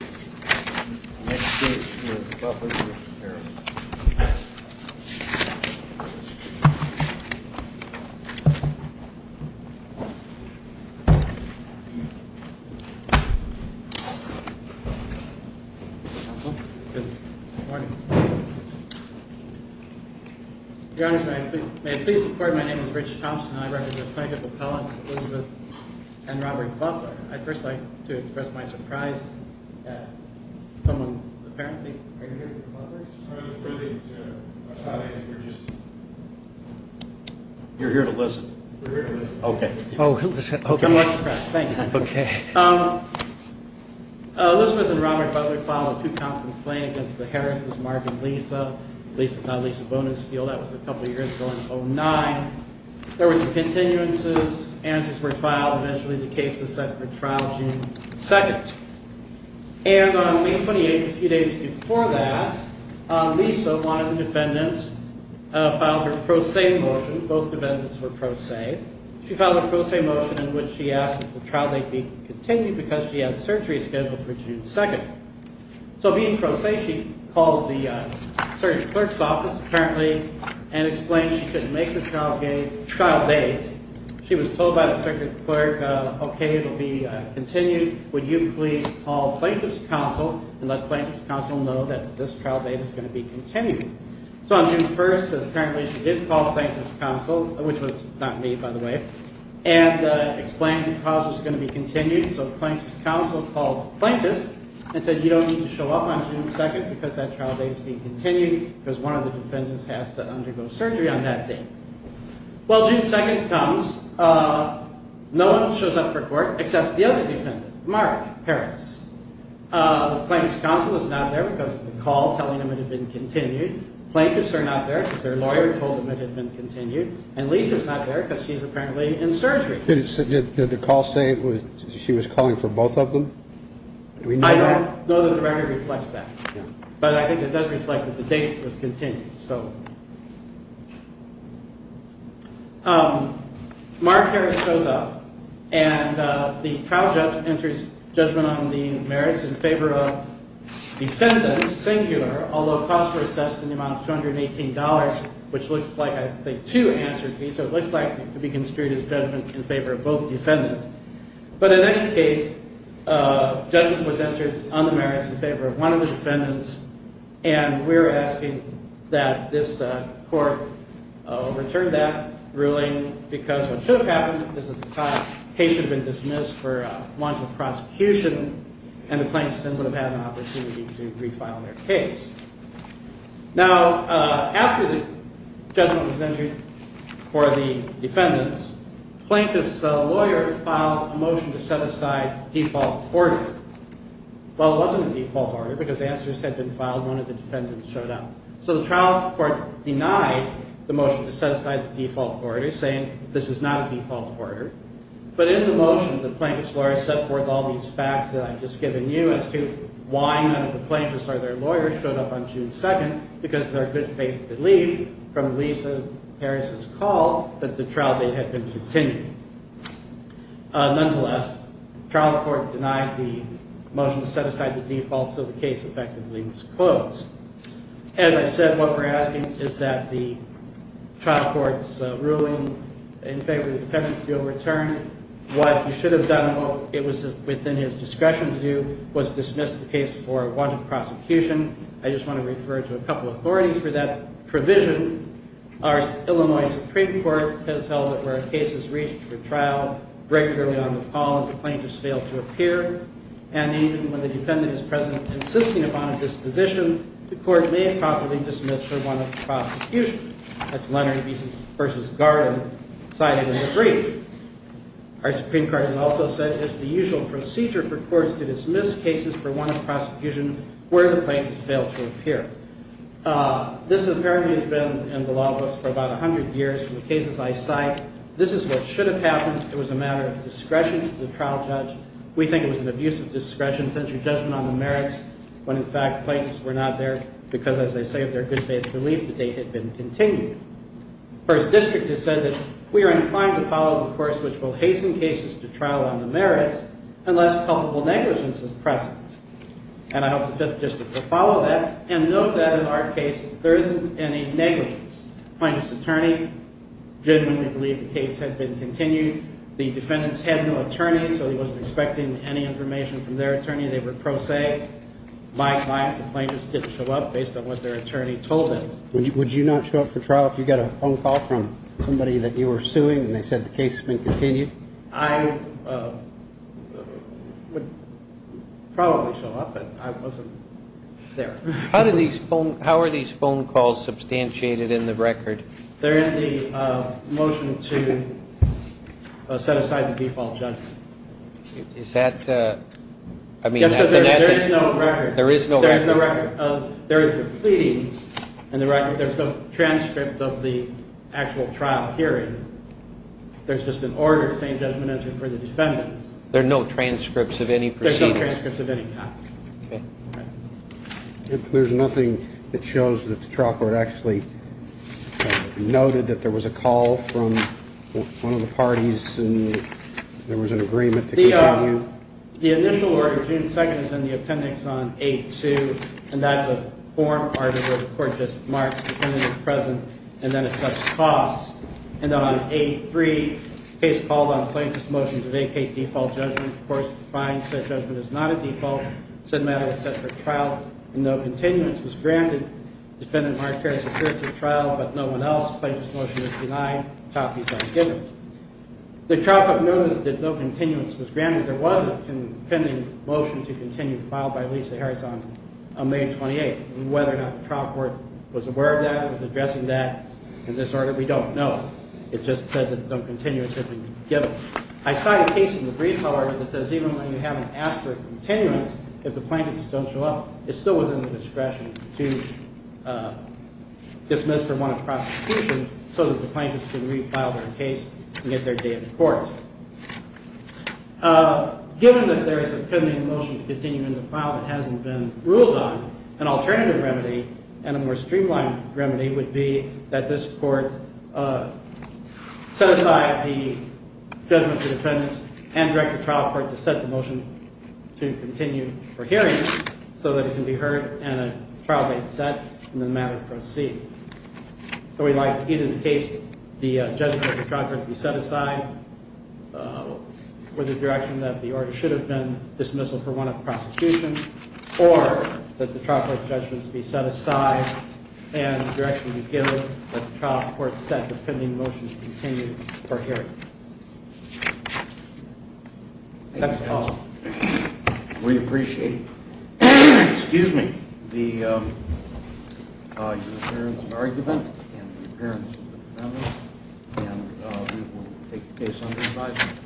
May it please the court, my name is Rich Thompson and I represent the plaintiff appellants Elizabeth and Robert Butler. I'd first like to express my surprise at someone apparently, are you here for the Butler's? You're here to listen. We're here to listen. Okay. Oh, okay. I'm more surprised, thank you. Okay. Elizabeth and Robert Butler filed a two-count complaint against the Harris' Marvin Lisa, Lisa's not Lisa Bonesteel, that was a couple of years ago in 2009. There were some continuances, answers were filed, eventually the case was set for judgment for trial June 2nd. And on May 28th, a few days before that, Lisa, one of the defendants, filed her pro se motion, both defendants were pro se, she filed a pro se motion in which she asked that the trial date be continued because she had surgery scheduled for June 2nd. So being pro se, she called the circuit clerk's office apparently and explained she couldn't make the trial date. She was told by the circuit clerk, okay, it'll be continued, would you please call Plaintiff's Counsel and let Plaintiff's Counsel know that this trial date is going to be continued. So on June 1st, apparently she did call Plaintiff's Counsel, which was not me, by the way, and explained the cause was going to be continued. So Plaintiff's Counsel called Plaintiff's and said, you don't need to show up on June 2nd because that trial date is being continued because one of the defendants has to undergo surgery on that date. Well, June 2nd comes, no one shows up for court except the other defendant, Mark Harris. Plaintiff's Counsel is not there because of the call telling him it had been continued. Plaintiffs are not there because their lawyer told them it had been continued. And Lisa's not there because she's apparently in surgery. Did the call say she was calling for both of them? I don't know that the record reflects that, but I think it does reflect that the date was continued. Mark Harris shows up, and the trial judge enters judgment on the merits in favor of defendants, singular, although costs were assessed in the amount of $218, which looks like, I think, two answer fees, so it looks like it could be construed as judgment in favor of both defendants. But in any case, judgment was entered on the merits in favor of one of the defendants, and we're asking that this court return that ruling because what should have happened is that the case should have been dismissed for want of prosecution, and the plaintiffs then would have had an opportunity to refile their case. Now, after the judgment was entered for the defendants, plaintiff's lawyer filed a motion to set aside default order. Well, it wasn't a default order because answers had been filed and none of the defendants showed up. So the trial court denied the motion to set aside the default order, saying this is not a default order. But in the motion, the plaintiff's lawyer set forth all these facts that I've just given you as to why none of the plaintiffs or their lawyers showed up on June 2nd, because their good faith belief from Lisa Harris's call that the trial date had been continued. Nonetheless, trial court denied the motion to set aside the default so the case effectively was closed. As I said, what we're asking is that the trial court's ruling in favor of the defendants be overturned. What you should have done and what was within his discretion to do was dismiss the case for want of prosecution. I just want to refer to a couple of authorities for that provision. Our Illinois Supreme Court has held that where a case is reached for trial regularly on the call, the plaintiffs fail to appear. And even when the defendant is present, insisting upon a disposition, the court may possibly dismiss for want of prosecution. That's Leonard vs. Garden cited in the brief. Our Supreme Court has also said it's the usual procedure for courts to dismiss cases for want of prosecution where the plaintiffs fail to appear. This apparently has been in the law books for about a hundred years from the cases I cite. This is what should have happened. It was a matter of discretion to the trial judge. We think it was an abuse of discretion, potential judgment on the merits, when in fact, plaintiffs were not there because, as they say, of their good faith belief that they had been continued. First District has said that we are inclined to follow the course which will hasten cases to trial on the merits unless culpable negligence is present. And I hope the Fifth District will follow that and note that in our case, there isn't any negligence. Plaintiff's attorney generally believed the case had been continued. The defendants had no attorney, so he wasn't expecting any information from their attorney. They were pro se. My advice, the plaintiffs didn't show up based on what their attorney told them. Would you not show up for trial if you got a phone call from somebody that you were suing and they said the case has been continued? I would probably show up, but I wasn't there. How are these phone calls substantiated in the record? They're in the motion to set aside the default judgment. Is that? Yes, because there is no record. There is no record. There is the pleadings in the record. There's no transcript of the actual trial hearing. There's just an order saying judgment entered for the defendants. There are no transcripts of any proceedings? There's no transcripts of any kind. There's nothing that shows that the trial court actually noted that there was a call from one of the parties and there was an agreement to continue? The initial order, June 2nd, is in the appendix on 8-2, and that's a form article the court just marks the defendant is present and then assesses costs. And on 8-3, the case called on plaintiff's motion to vacate default judgment. Of course, it's fine. Said judgment is not a default. Said matter was set for trial, and no continuance was granted. Defendant Mark Harris appears at trial, but no one else. Plaintiff's motion is denied. Copies are given. The trial court noted that no continuance was granted. There was a pending motion to continue filed by Lisa Harris on May 28th. Whether or not the trial court was aware of that, was addressing that in this order, we don't know. It just said that no continuance had been given. I cite a case in the brief, however, that says even when you haven't asked for a continuance, if the plaintiffs don't show up, it's still within the discretion to dismiss from one of the prosecutions so that the plaintiffs can refile their case and get their day in court. Given that there is a pending motion to continue in the file that hasn't been ruled on, an alternative remedy and a more streamlined remedy would be that this court set aside the judgment of the defendants and direct the trial court to set the motion to continue for hearing so that it can be heard and a trial date set in the manner to proceed. So we'd like either the case, the judgment of the trial court to be set aside with the direction that the order should have been dismissal for one of the prosecutions, or that the trial court judgments be set aside and the direction to give that the trial court set the pending motion to continue for hearing. That's all. We appreciate the appearance of argument and the appearance of the defendant. And we will take the case under review.